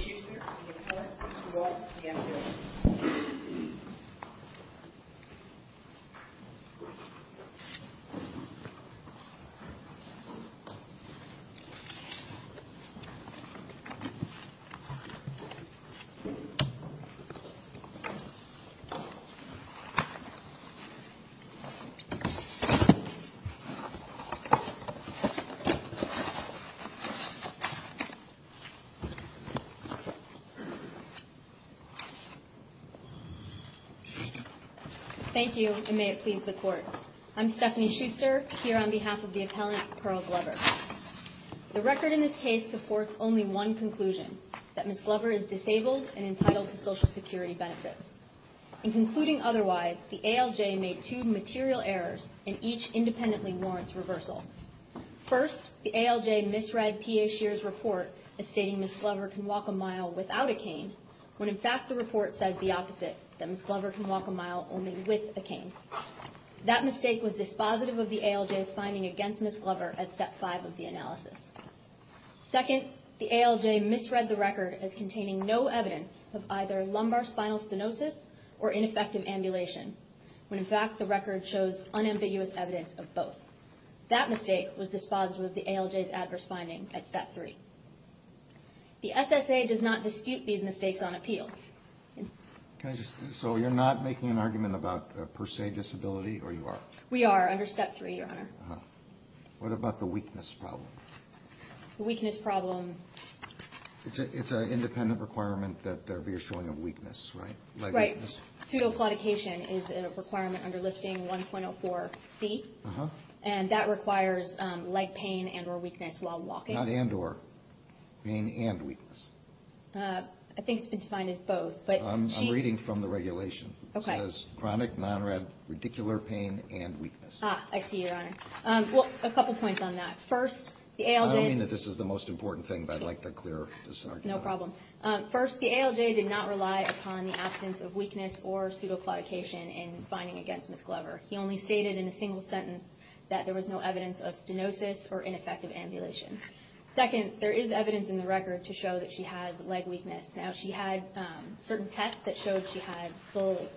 Ms. Schuster, on behalf of the Board, please walk to the afternoon. Thank you, and may it please the Court. I'm Stephanie Schuster, here on behalf of the appellant, Pearl Glover. The record in this case supports only one conclusion, that Ms. Glover's ALJ made two material errors, and each independently warrants reversal. First, the ALJ misread P.A. Scheer's report as stating Ms. Glover can walk a mile without a cane, when in fact the report said the opposite, that Ms. Glover can walk a mile only with a cane. That mistake was dispositive of the ALJ's finding against Ms. Glover at Step 5 of the analysis. Second, the ALJ misread the record as containing no evidence of either when in fact the record shows unambiguous evidence of both. That mistake was dispositive of the ALJ's adverse finding at Step 3. The SSA does not dispute these mistakes on appeal. So you're not making an argument about per se disability, or you are? We are, under Step 3, Your Honor. What about the weakness problem? The weakness problem... It's an independent requirement that we are showing a weakness, right? Right. Pseudoplastication is a requirement under Listing 1.04c, and that requires leg pain and or weakness while walking. Not and or. Pain and weakness. I think it's been defined as both, but... I'm reading from the regulation. It says chronic, non-rad, radicular pain and weakness. Ah, I see, Your Honor. Well, a couple points on that. First, the ALJ... I don't mean that this is the most important thing, but I'd like to clear this argument. No problem. First, the ALJ did not rely upon the absence of weakness or pseudoplastication in finding against Ms. Glover. He only stated in a single sentence that there was no evidence of stenosis or ineffective ambulation. Second, there is evidence in the record to show that she has leg weakness. Now, she had certain tests that showed she had full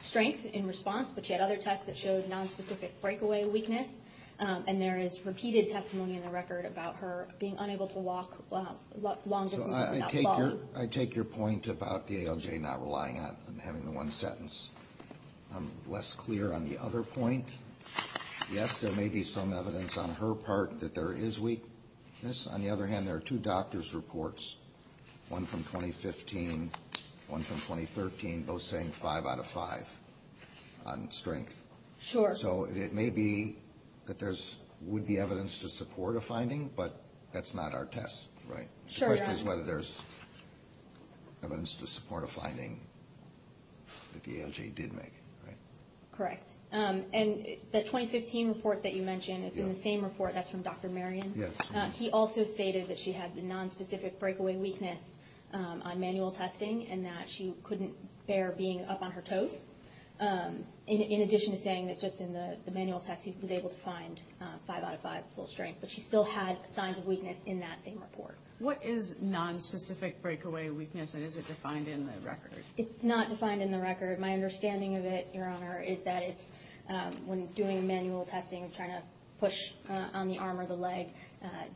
strength in response, but she had other tests that showed non-specific breakaway weakness. And there is repeated testimony in the record about her being unable to walk long distances. So I take your point about the ALJ not relying on having the one sentence. I'm less clear on the other point. Yes, there may be some evidence on her part that there is weakness. On the other hand, there are two doctors' reports, one from 2015, one from 2013, both saying five out of five on strength. Sure. So it may be that there would be evidence to support a finding, but that's not our test. Sure. The question is whether there is evidence to support a finding that the ALJ did make. Correct. And the 2015 report that you mentioned is in the same report that's from Dr. Marion. He also stated that she had the non-specific breakaway weakness on manual testing and that she couldn't bear being up on her toes. In addition to saying that just in the manual test he was able to find five out of five full strength, but she still had signs of weakness in that same report. What is non-specific breakaway weakness, and is it defined in the record? It's not defined in the record. My understanding of it, Your Honor, is that it's when doing manual testing, trying to push on the arm or the leg,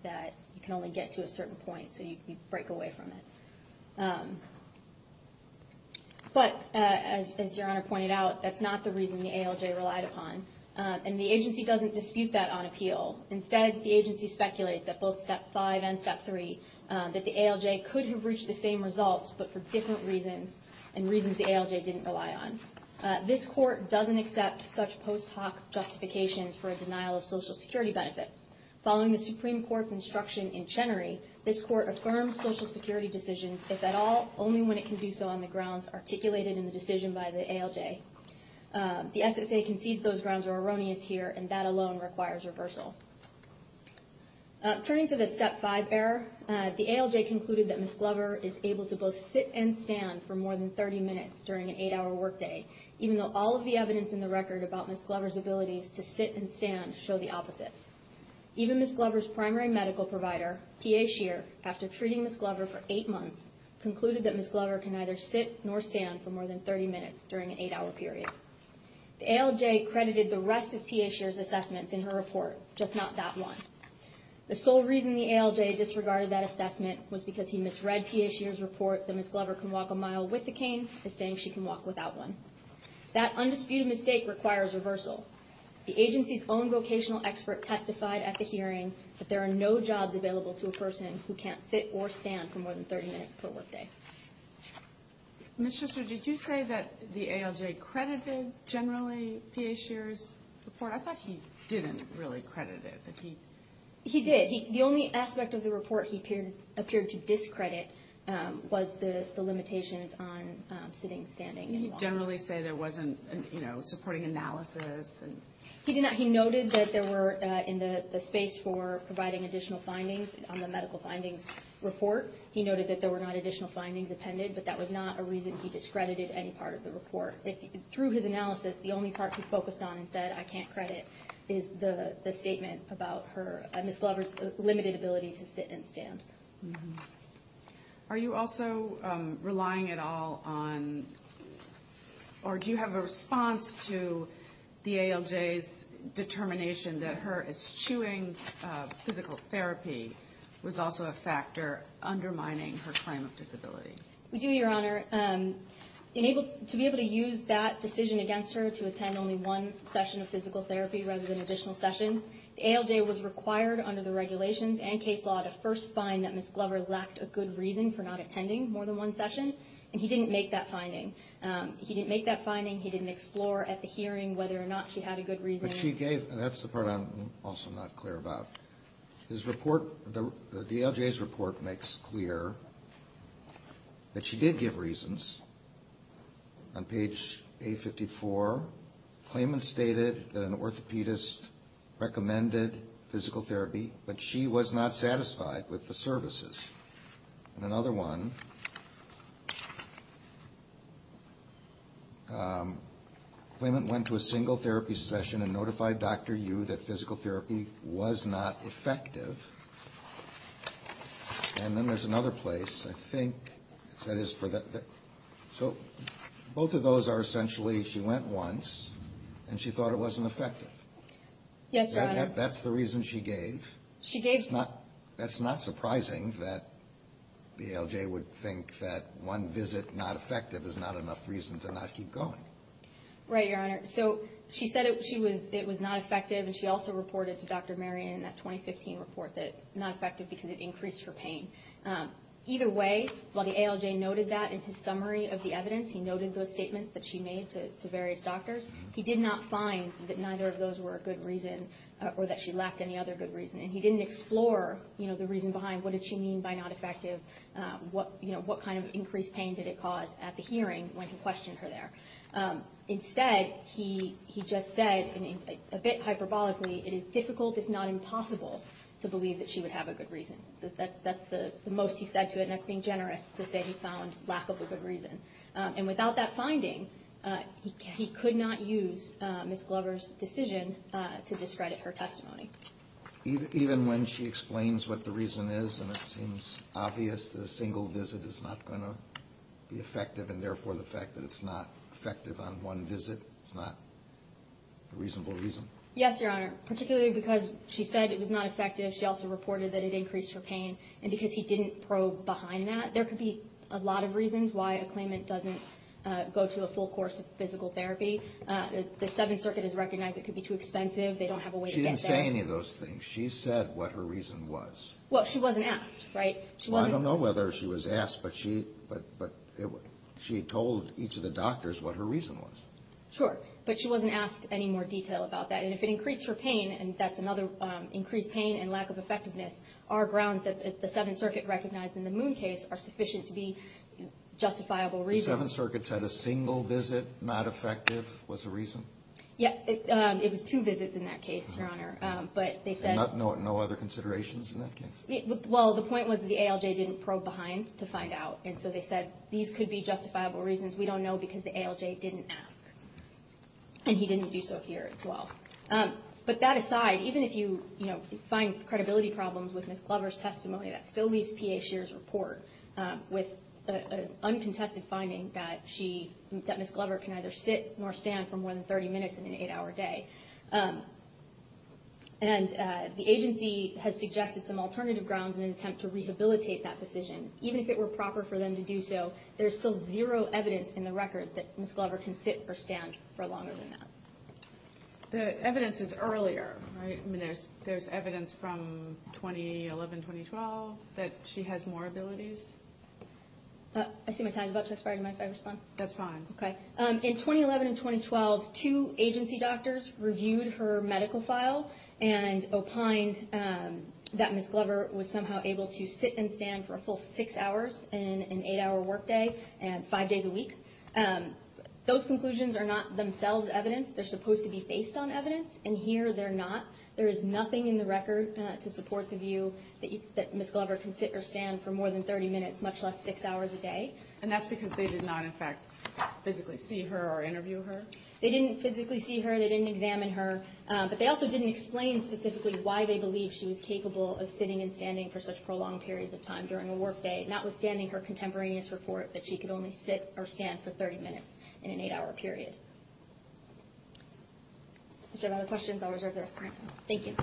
that you can only get to a certain point, so you break away from it. But as Your Honor pointed out, that's not the reason the ALJ relied upon. And the agency doesn't dispute that on appeal. Instead, the agency speculates at both Step 5 and Step 3 that the ALJ could have reached the same results, but for different reasons and reasons the ALJ didn't rely on. This Court doesn't accept such post hoc justifications for a denial of Social Security benefits. Following the Supreme Court's instruction in Chenery, this Court affirms Social Security decisions, if at all, only when it can do so on the grounds articulated in the decision by the ALJ. The SSA concedes those grounds are erroneous here, and that alone requires reversal. Turning to the Step 5 error, the ALJ concluded that Ms. Glover is able to both sit and stand for more than 30 minutes during an 8-hour workday, even though all of the evidence in the record about Ms. Glover's abilities to sit and stand show the opposite. Even Ms. Glover's primary medical provider, PA Shear, after treating Ms. Glover for 8 months, concluded that Ms. Glover can neither sit nor stand for more than 30 minutes during an 8-hour period. The ALJ credited the rest of PA Shear's assessments in her report, just not that one. The sole reason the ALJ disregarded that assessment was because he misread PA Shear's report that Ms. Glover can walk a mile with a cane as saying she can walk without one. That undisputed mistake requires reversal. The agency's own vocational expert testified at the hearing that there are no jobs available to a person who can't sit or stand for more than 30 minutes per workday. Ms. Schuster, did you say that the ALJ credited generally PA Shear's report? I thought he didn't really credit it. He did. The only aspect of the report he appeared to discredit was the limitations on sitting and standing. Did he generally say there wasn't supporting analysis? He noted that there were, in the space for providing additional findings on the medical findings report, he noted that there were not additional findings appended, but that was not a reason he discredited any part of the report. Through his analysis, the only part he focused on and said I can't credit is the statement about Ms. Glover's limited ability to sit and stand. Are you also relying at all on, or do you have a response to the ALJ's determination that her eschewing physical therapy was also a factor undermining her claim of disability? We do, Your Honor. To be able to use that decision against her to attend only one session of physical therapy rather than additional sessions, the ALJ was required under the regulations and case law to first find that Ms. Glover lacked a good reason for not attending more than one session, and he didn't make that finding. He didn't make that finding, he didn't explore at the hearing whether or not she had a good reason. That's the part I'm also not clear about. His report, the ALJ's report makes clear that she did give reasons. On page 854, Clayman stated that an orthopedist recommended physical therapy, but she was not satisfied with the services. In another one, Clayman went to a single therapy session and notified Dr. Yu that physical therapy was not effective. And then there's another place, I think, so both of those are essentially she went once and she thought it wasn't effective. Yes, Your Honor. That's the reason she gave. That's not surprising that the ALJ would think that one visit not effective is not enough reason to not keep going. Right, Your Honor. So she said it was not effective, and she also reported to Dr. Marion in that 2015 report that it was not effective because it increased her pain. Either way, while the ALJ noted that in his summary of the evidence, he noted those statements that she made to various doctors, he did not find that neither of those were a good reason or that she lacked any other good reason. And he didn't explore the reason behind what did she mean by not effective, what kind of increased pain did it cause at the hearing when he questioned her there. Instead, he just said, a bit hyperbolically, it is difficult, if not impossible, to believe that she would have a good reason. That's the most he said to it, and that's being generous to say he found lack of a good reason. And without that finding, he could not use Ms. Glover's decision to discredit her testimony. Even when she explains what the reason is, and it seems obvious that a single visit is not going to be effective, and therefore the fact that it's not effective on one visit is not a reasonable reason? Yes, Your Honor. Particularly because she said it was not effective, she also reported that it increased her pain, and because he didn't probe behind that, there could be a lot of reasons why a claimant doesn't go to a full course of physical therapy. The Seventh Circuit has recognized it could be too expensive, they don't have a way to get there. She didn't say any of those things. She said what her reason was. Well, she wasn't asked, right? Well, I don't know whether she was asked, but she told each of the doctors what her reason was. Sure, but she wasn't asked any more detail about that. And if it increased her pain, and that's another increased pain and lack of effectiveness, are grounds that the Seventh Circuit recognized in the Moon case are sufficient to be justifiable reasons. The Seventh Circuit said a single visit not effective was a reason? Yeah, it was two visits in that case, Your Honor. No other considerations in that case? Well, the point was that the ALJ didn't probe behind to find out, and so they said these could be justifiable reasons we don't know because the ALJ didn't ask. And he didn't do so here as well. But that aside, even if you find credibility problems with Ms. Glover's testimony, that still leaves P.A. Scheer's report with an uncontested finding that Ms. Glover can either sit or stand for more than 30 minutes in an eight-hour day. And the agency has suggested some alternative grounds in an attempt to rehabilitate that decision. Even if it were proper for them to do so, there's still zero evidence in the record that Ms. Glover can sit or stand for longer than that. The evidence is earlier, right? I mean, there's evidence from 2011-2012 that she has more abilities? I see my time's about to expire. Do you mind if I respond? That's fine. Okay. In 2011 and 2012, two agency doctors reviewed her medical file and opined that Ms. Glover was somehow able to sit and stand for a full six hours in an eight-hour workday, five days a week. Those conclusions are not themselves evidence. They're supposed to be based on evidence, and here they're not. There is nothing in the record to support the view that Ms. Glover can sit or stand for more than 30 minutes, much less six hours a day. And that's because they did not, in fact, physically see her or interview her? They didn't physically see her. They didn't examine her. But they also didn't explain specifically why they believed she was capable of sitting and standing for such prolonged periods of time during a workday, notwithstanding her contemporaneous report that she could only sit or stand for 30 minutes in an eight-hour period. If you have other questions, I'll reserve the rest of my time. Thank you.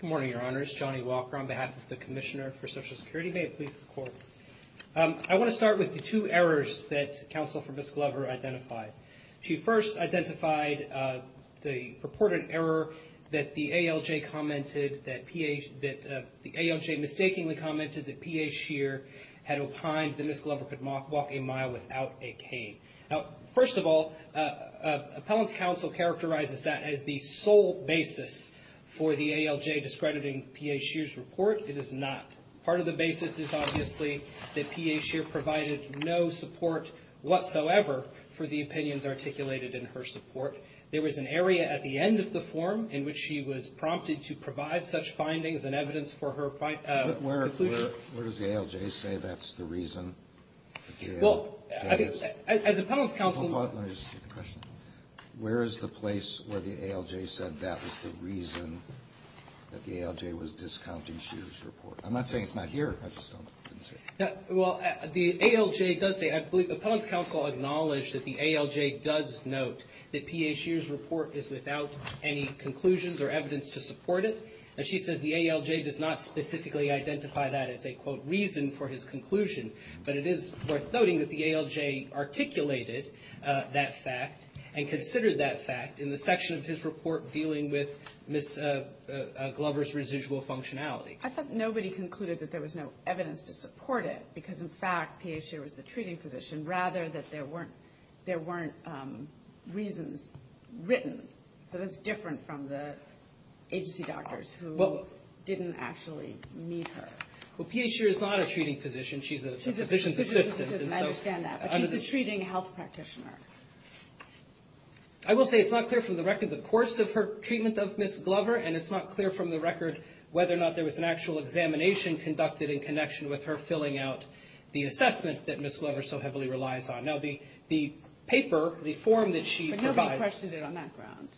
Good morning, Your Honors. Johnny Walker on behalf of the Commissioner for Social Security. May it please the Court. I want to start with the two errors that counsel for Ms. Glover identified. She first identified the purported error that the ALJ mistakenly commented that P.A. Scheer had opined that Ms. Glover could walk a mile without a cane. Now, first of all, appellant's counsel characterizes that as the sole basis for the ALJ discrediting P.A. Scheer's report. It is not. Part of the basis is obviously that P.A. Scheer provided no support whatsoever for the opinions articulated in her support. There was an area at the end of the form in which she was prompted to provide such findings and evidence for her conclusion. Where does the ALJ say that's the reason? Well, I think as appellant's counsel Hold on. Let me just take the question. Where is the place where the ALJ said that was the reason that the ALJ was discounting Scheer's report? I'm not saying it's not here. I just don't think so. Well, the ALJ does say, I believe appellant's counsel acknowledged that the ALJ does note that P.A. Scheer's report is without any conclusions or evidence to support it. And she says the ALJ does not specifically identify that as a, quote, reason for his conclusion. But it is worth noting that the ALJ articulated that fact and considered that fact in the section of his report dealing with Ms. Glover's residual functionality. I thought nobody concluded that there was no evidence to support it because, in fact, P.A. Scheer was the treating physician rather that there weren't reasons written. So that's different from the agency doctors who didn't actually meet her. Well, P.A. Scheer is not a treating physician. She's a physician's assistant. I understand that. But she's the treating health practitioner. I will say it's not clear from the record the course of her treatment of Ms. Glover and it's not clear from the record whether or not there was an actual examination conducted in connection with her filling out the assessment that Ms. Glover so heavily relies on. Now, the paper, the form that she provides... But nobody questioned it on that ground.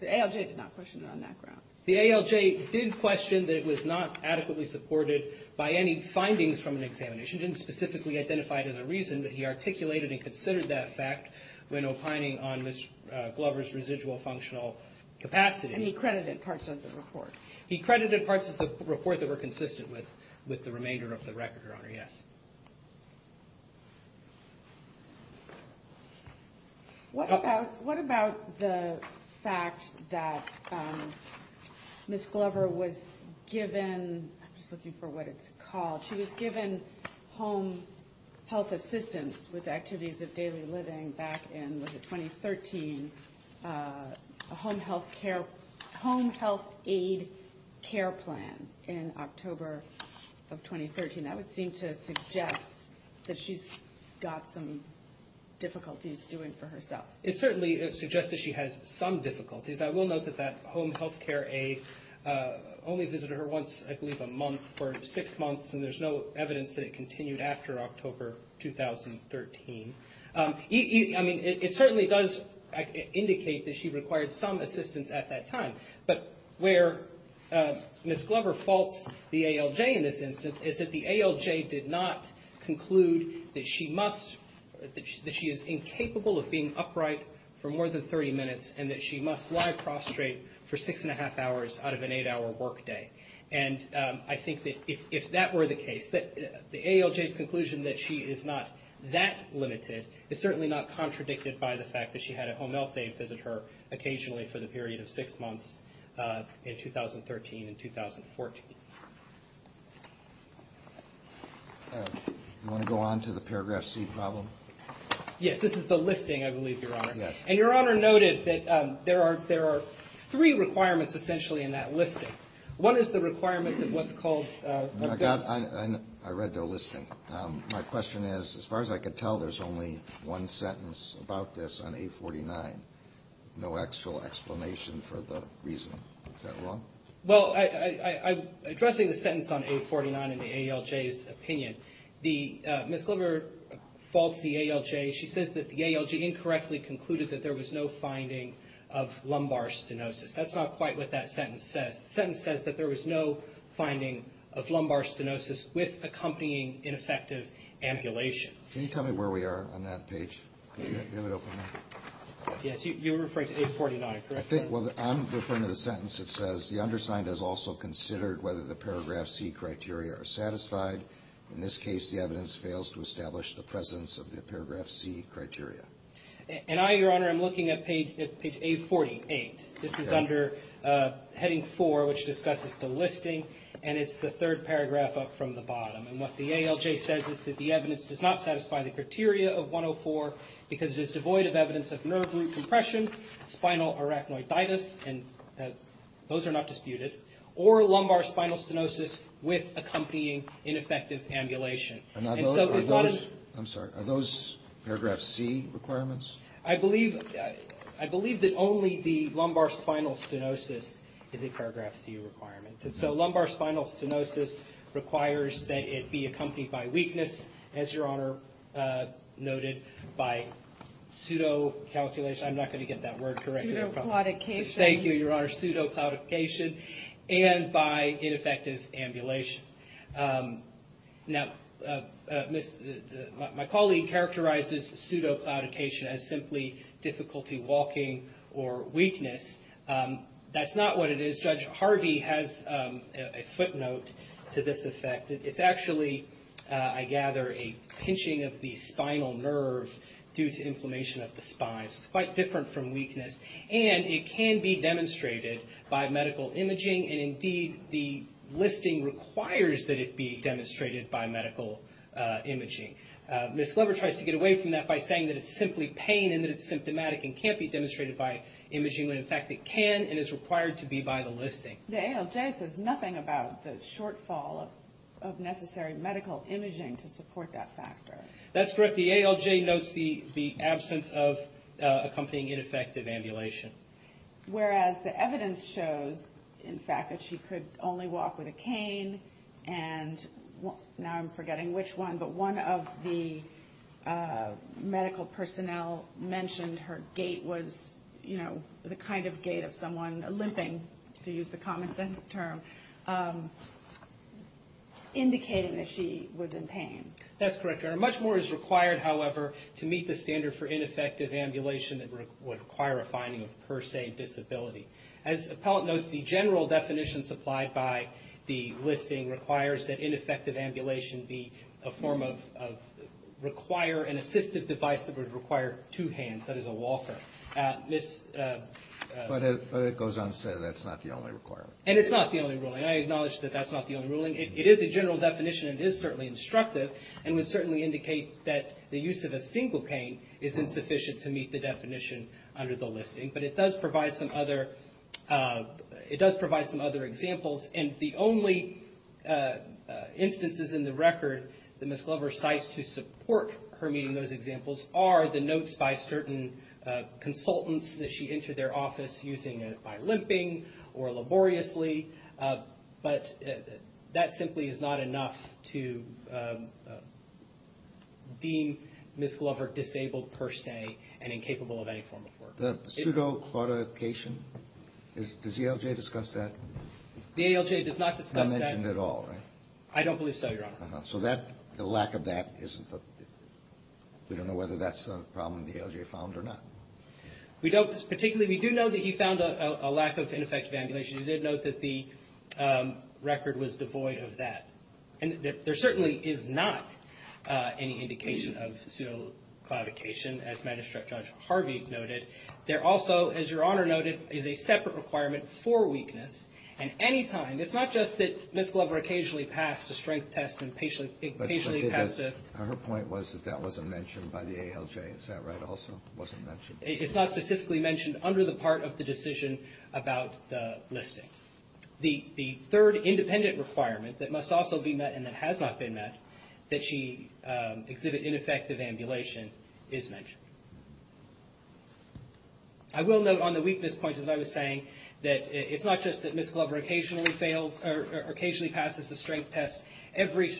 The ALJ did not question it on that ground. The ALJ did question that it was not adequately supported by any findings from an examination. It didn't specifically identify it as a reason, but he articulated and considered that fact when opining on Ms. Glover's residual functional capacity. And he credited parts of the report. He credited parts of the report that were consistent with the remainder of the record, Your Honor, yes. What about the fact that Ms. Glover was given... I'm just looking for what it's called. She was given home health assistance with activities of daily living back in, was it 2013? A home health care... Home health aid care plan in October of 2013. That would seem to suggest that she's got some difficulties doing it for herself. It certainly suggests that she has some difficulties. I will note that that home health care aid only visited her once, I believe, a month or six months, and there's no evidence that it continued after October 2013. I mean, it certainly does indicate that she required some assistance at that time. But where Ms. Glover faults the ALJ in this instance is that the ALJ did not conclude that she must... And I think that if that were the case, that the ALJ's conclusion that she is not that limited is certainly not contradicted by the fact that she had a home health aid visit her occasionally for the period of six months in 2013 and 2014. You want to go on to the paragraph C problem? Yes, this is the listing, I believe, Your Honor, and Your Honor noted that there are three requirements essentially in that listing. One is the requirement of what's called... I read the listing. My question is, as far as I can tell, there's only one sentence about this on A49. No actual explanation for the reason. Is that wrong? Well, I'm addressing the sentence on A49 in the ALJ's opinion. Ms. Glover faults the ALJ. She says that the ALJ incorrectly concluded that there was no finding of lumbar stenosis. That's not quite what that sentence says. The sentence says that there was no finding of lumbar stenosis with accompanying ineffective ambulation. Can you tell me where we are on that page? Yes, you're referring to A49, correct? I'm referring to the sentence that says the undersigned has also considered whether the paragraph C criteria are satisfied. In this case, the evidence fails to establish the presence of the paragraph C criteria. And I, Your Honor, am looking at page A48. This is under heading 4, which discusses the listing, and it's the third paragraph up from the bottom. And what the ALJ says is that the evidence does not satisfy the criteria of 104 because it is devoid of evidence of nerve root compression, spinal arachnoiditis, and those are not disputed, or ineffective ambulation. Are those paragraph C requirements? I believe that only the lumbar spinal stenosis is a paragraph C requirement. So lumbar spinal stenosis requires that it be accompanied by weakness, as Your Honor noted, by pseudo-calculation. I'm not going to get that word correct. Thank you, Your Honor. Pseudo-claudification. And by ineffective ambulation. Now, my colleague characterizes pseudo-claudification as simply difficulty walking or weakness. That's not what it is. Judge Harvey has a footnote to this effect. It's actually, I gather, a pinching of the spinal nerve due to inflammation of the spine. So it's quite different from weakness. And it can be demonstrated by medical imaging and indeed the listing requires that it be demonstrated by medical imaging. Ms. Glover tries to get away from that by saying that it's simply pain and that it's symptomatic and can't be demonstrated by imaging when in fact it can and is required to be by the listing. The ALJ says nothing about the shortfall of necessary medical imaging to support that factor. That's correct. The ALJ notes the absence of accompanying ineffective ambulation. Whereas the evidence shows, in fact, that she could only walk with a cane and now I'm forgetting which one, but one of the medical personnel mentioned her gait was, you know, the kind of gait of someone limping, to use the common sense indicating that she was in pain. That's correct, Your Honor. Much more is required, however, to meet the standard for ineffective ambulation that would require a finding of per se disability. As the appellant notes, the general definition supplied by the listing requires that ineffective ambulation be a form of require an assistive device that would require two hands, that is a walker. But it goes on to say that's not the only requirement. And it's not the only ruling. I acknowledge that that's not the only ruling. It is a general definition and it is certainly instructive and would certainly indicate that the use of a single cane is insufficient to meet the definition under the listing. But it does provide some other examples and the only instances in the record that Ms. Glover cites to support her meeting those examples are the notes by certain consultants that she entered their office using by limping or laboriously. But that simply is not enough to deem Ms. Glover disabled per se and incapable of any form of work. Does the ALJ discuss that? The ALJ does not discuss that. Not mentioned at all, right? I don't believe so, Your Honor. So the lack of that we don't know whether that's a problem the ALJ found or not. We do know that he found a lack of ineffective ambulation. He did note that the record was devoid of that. And there certainly is not any indication of pseudo-clavication as Magistrate Judge Harvey noted. There also, as Your Honor noted, is a separate requirement for weakness. And anytime, it's not just that Ms. Glover occasionally passed a strength test and occasionally passed a... Her point was that that wasn't in the ALJ. Is that right also? It wasn't mentioned? It's not specifically mentioned under the part of the decision about the listing. The third independent requirement that must also be met and that has not been met that she exhibit ineffective ambulation is mentioned. I will note on the weakness point, as I was saying, that it's not just that Ms. Glover occasionally fails or occasionally passes a strength test. Every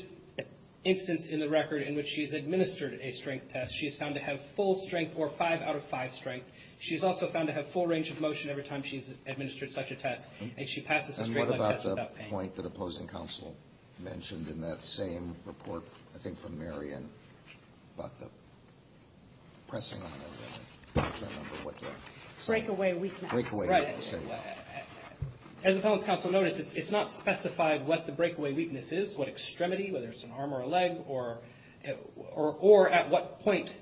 instance in the record in which she's administered a strength test, she's found to have full strength or 5 out of 5 strength. She's also found to have full range of motion every time she's administered such a test. And she passes a strength test without pain. And what about the point that opposing counsel mentioned in that same report, I think from Marion, about the pressing of the number, what the... Breakaway weakness. Right. As appellants counsel noticed, it's not specified what the breakaway weakness is, what extremity, whether it's an arm or a leg, or at what point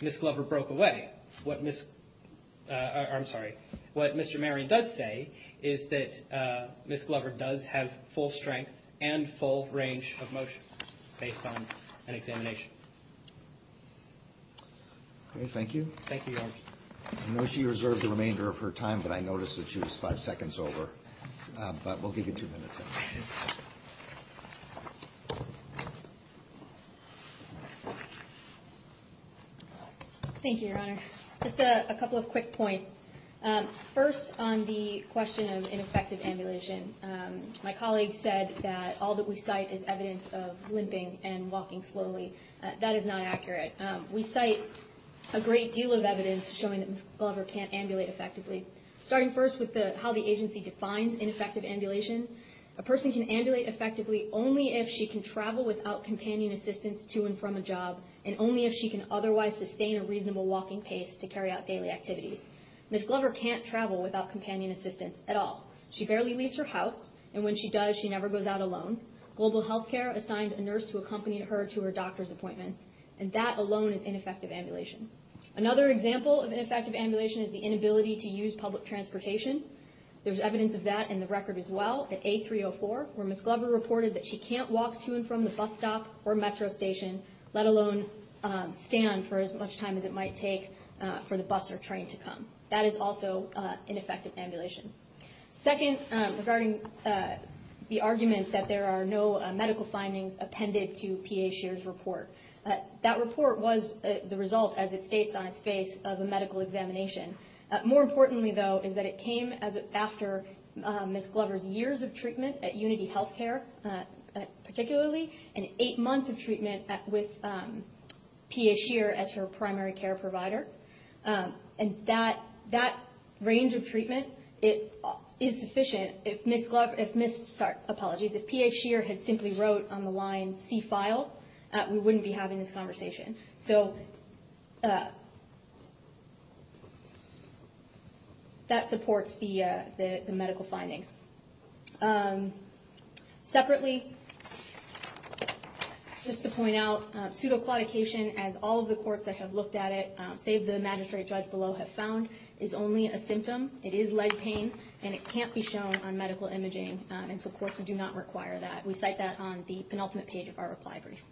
Ms. Glover broke away. I'm sorry. What Mr. Marion does say is that Ms. Glover does have full strength and full range of motion based on an examination. Thank you. I know she reserved the remainder of her time, but I noticed that she was five seconds over. But we'll give you two minutes. Thank you, Your Honor. Just a couple of quick points. First, on the question of ineffective ambulation, my colleague said that all that we cite is evidence of limping and walking slowly. That is not accurate. We cite a great deal of evidence showing that Ms. Glover can't ambulate effectively. Starting first with how the agency defines ineffective ambulation, a person can ambulate effectively only if she can travel without companion assistance to and from a job, and only if she can otherwise sustain a reasonable walking pace to carry out daily activities. Ms. Glover can't travel without companion assistance at all. She barely leaves her house, and when she does, she never goes out alone. Global Healthcare assigned a nurse to accompany her to her doctor's appointments, and that alone is ineffective ambulation. Another example of ineffective ambulation is the inability to use public transportation. There's evidence of that in the record as well, at A304, where Ms. Glover reported that she can't walk to and from the bus stop or metro station, let alone stand for as much time as it might take for the bus or train to come. That is also ineffective ambulation. Second, regarding the argument that there are no medical findings appended to P.A. Scheer's report. That report was the result, as it states on its face, of a medical examination. More importantly, though, is that it came after Ms. Glover's years of treatment at Unity Healthcare, particularly, and eight months of treatment with P.A. Scheer as her primary care provider. And that range of treatment is sufficient if Ms. Glover, sorry, apologies, if P.A. Scheer had simply wrote on the line, see file, we wouldn't be having this conversation. So, that supports the medical findings. Separately, just to point out, pseudoclaudication, as all of the courts that have looked at it, save the magistrate judge below, have found, is only a symptom. It is leg pain, and it can't be shown on medical imaging, and so courts do not require that. We cite that on the penultimate page of our reply brief.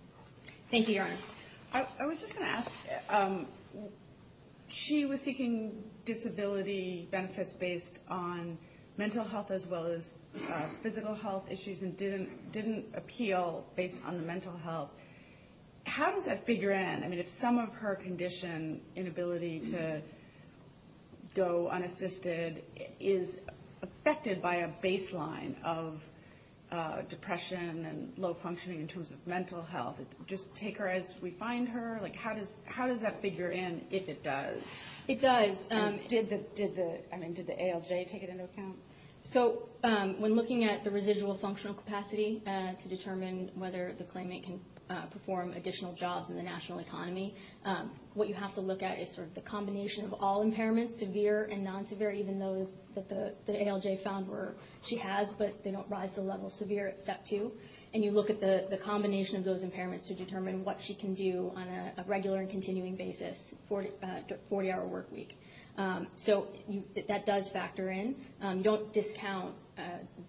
Thank you, Your Honor. I was just going to ask, she was seeking disability benefits based on mental health as well as physical health issues, and didn't appeal based on the mental health. How does that figure in? I mean, if some of her condition, inability to go unassisted, is affected by a baseline of depression and low functioning in terms of mental health, just take her as we find her? How does that figure in, if it does? It does. Did the ALJ take it into account? So, when looking at the residual functional capacity to determine whether the claimant can perform additional jobs in the national economy, what you have to look at is the combination of all impairments, severe and non-severe, even those that the ALJ found where she has, but they don't rise to the level of severe at step two, and you look at the combination of those impairments to determine what she can do on a regular and continuing basis for a 40-hour work week. So, that does factor in. You don't discount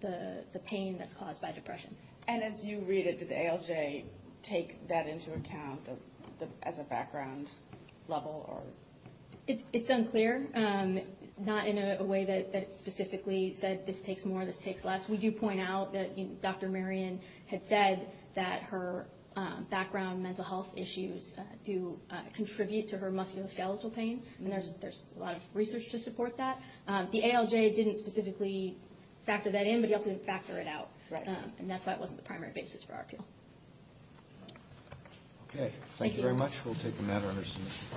the pain that's caused by depression. And as you read it, did the ALJ take that into account as a background level? It's unclear. Not in a way that it specifically said, this takes more, this takes less. We do point out that Dr. Marion had said that her background mental health issues do contribute to her musculoskeletal pain. There's a lot of research to support that. The ALJ didn't specifically factor that in, but he also didn't factor it out. And that's why it wasn't the primary basis for our appeal. Okay. Thank you very much. We'll take a matter under submission.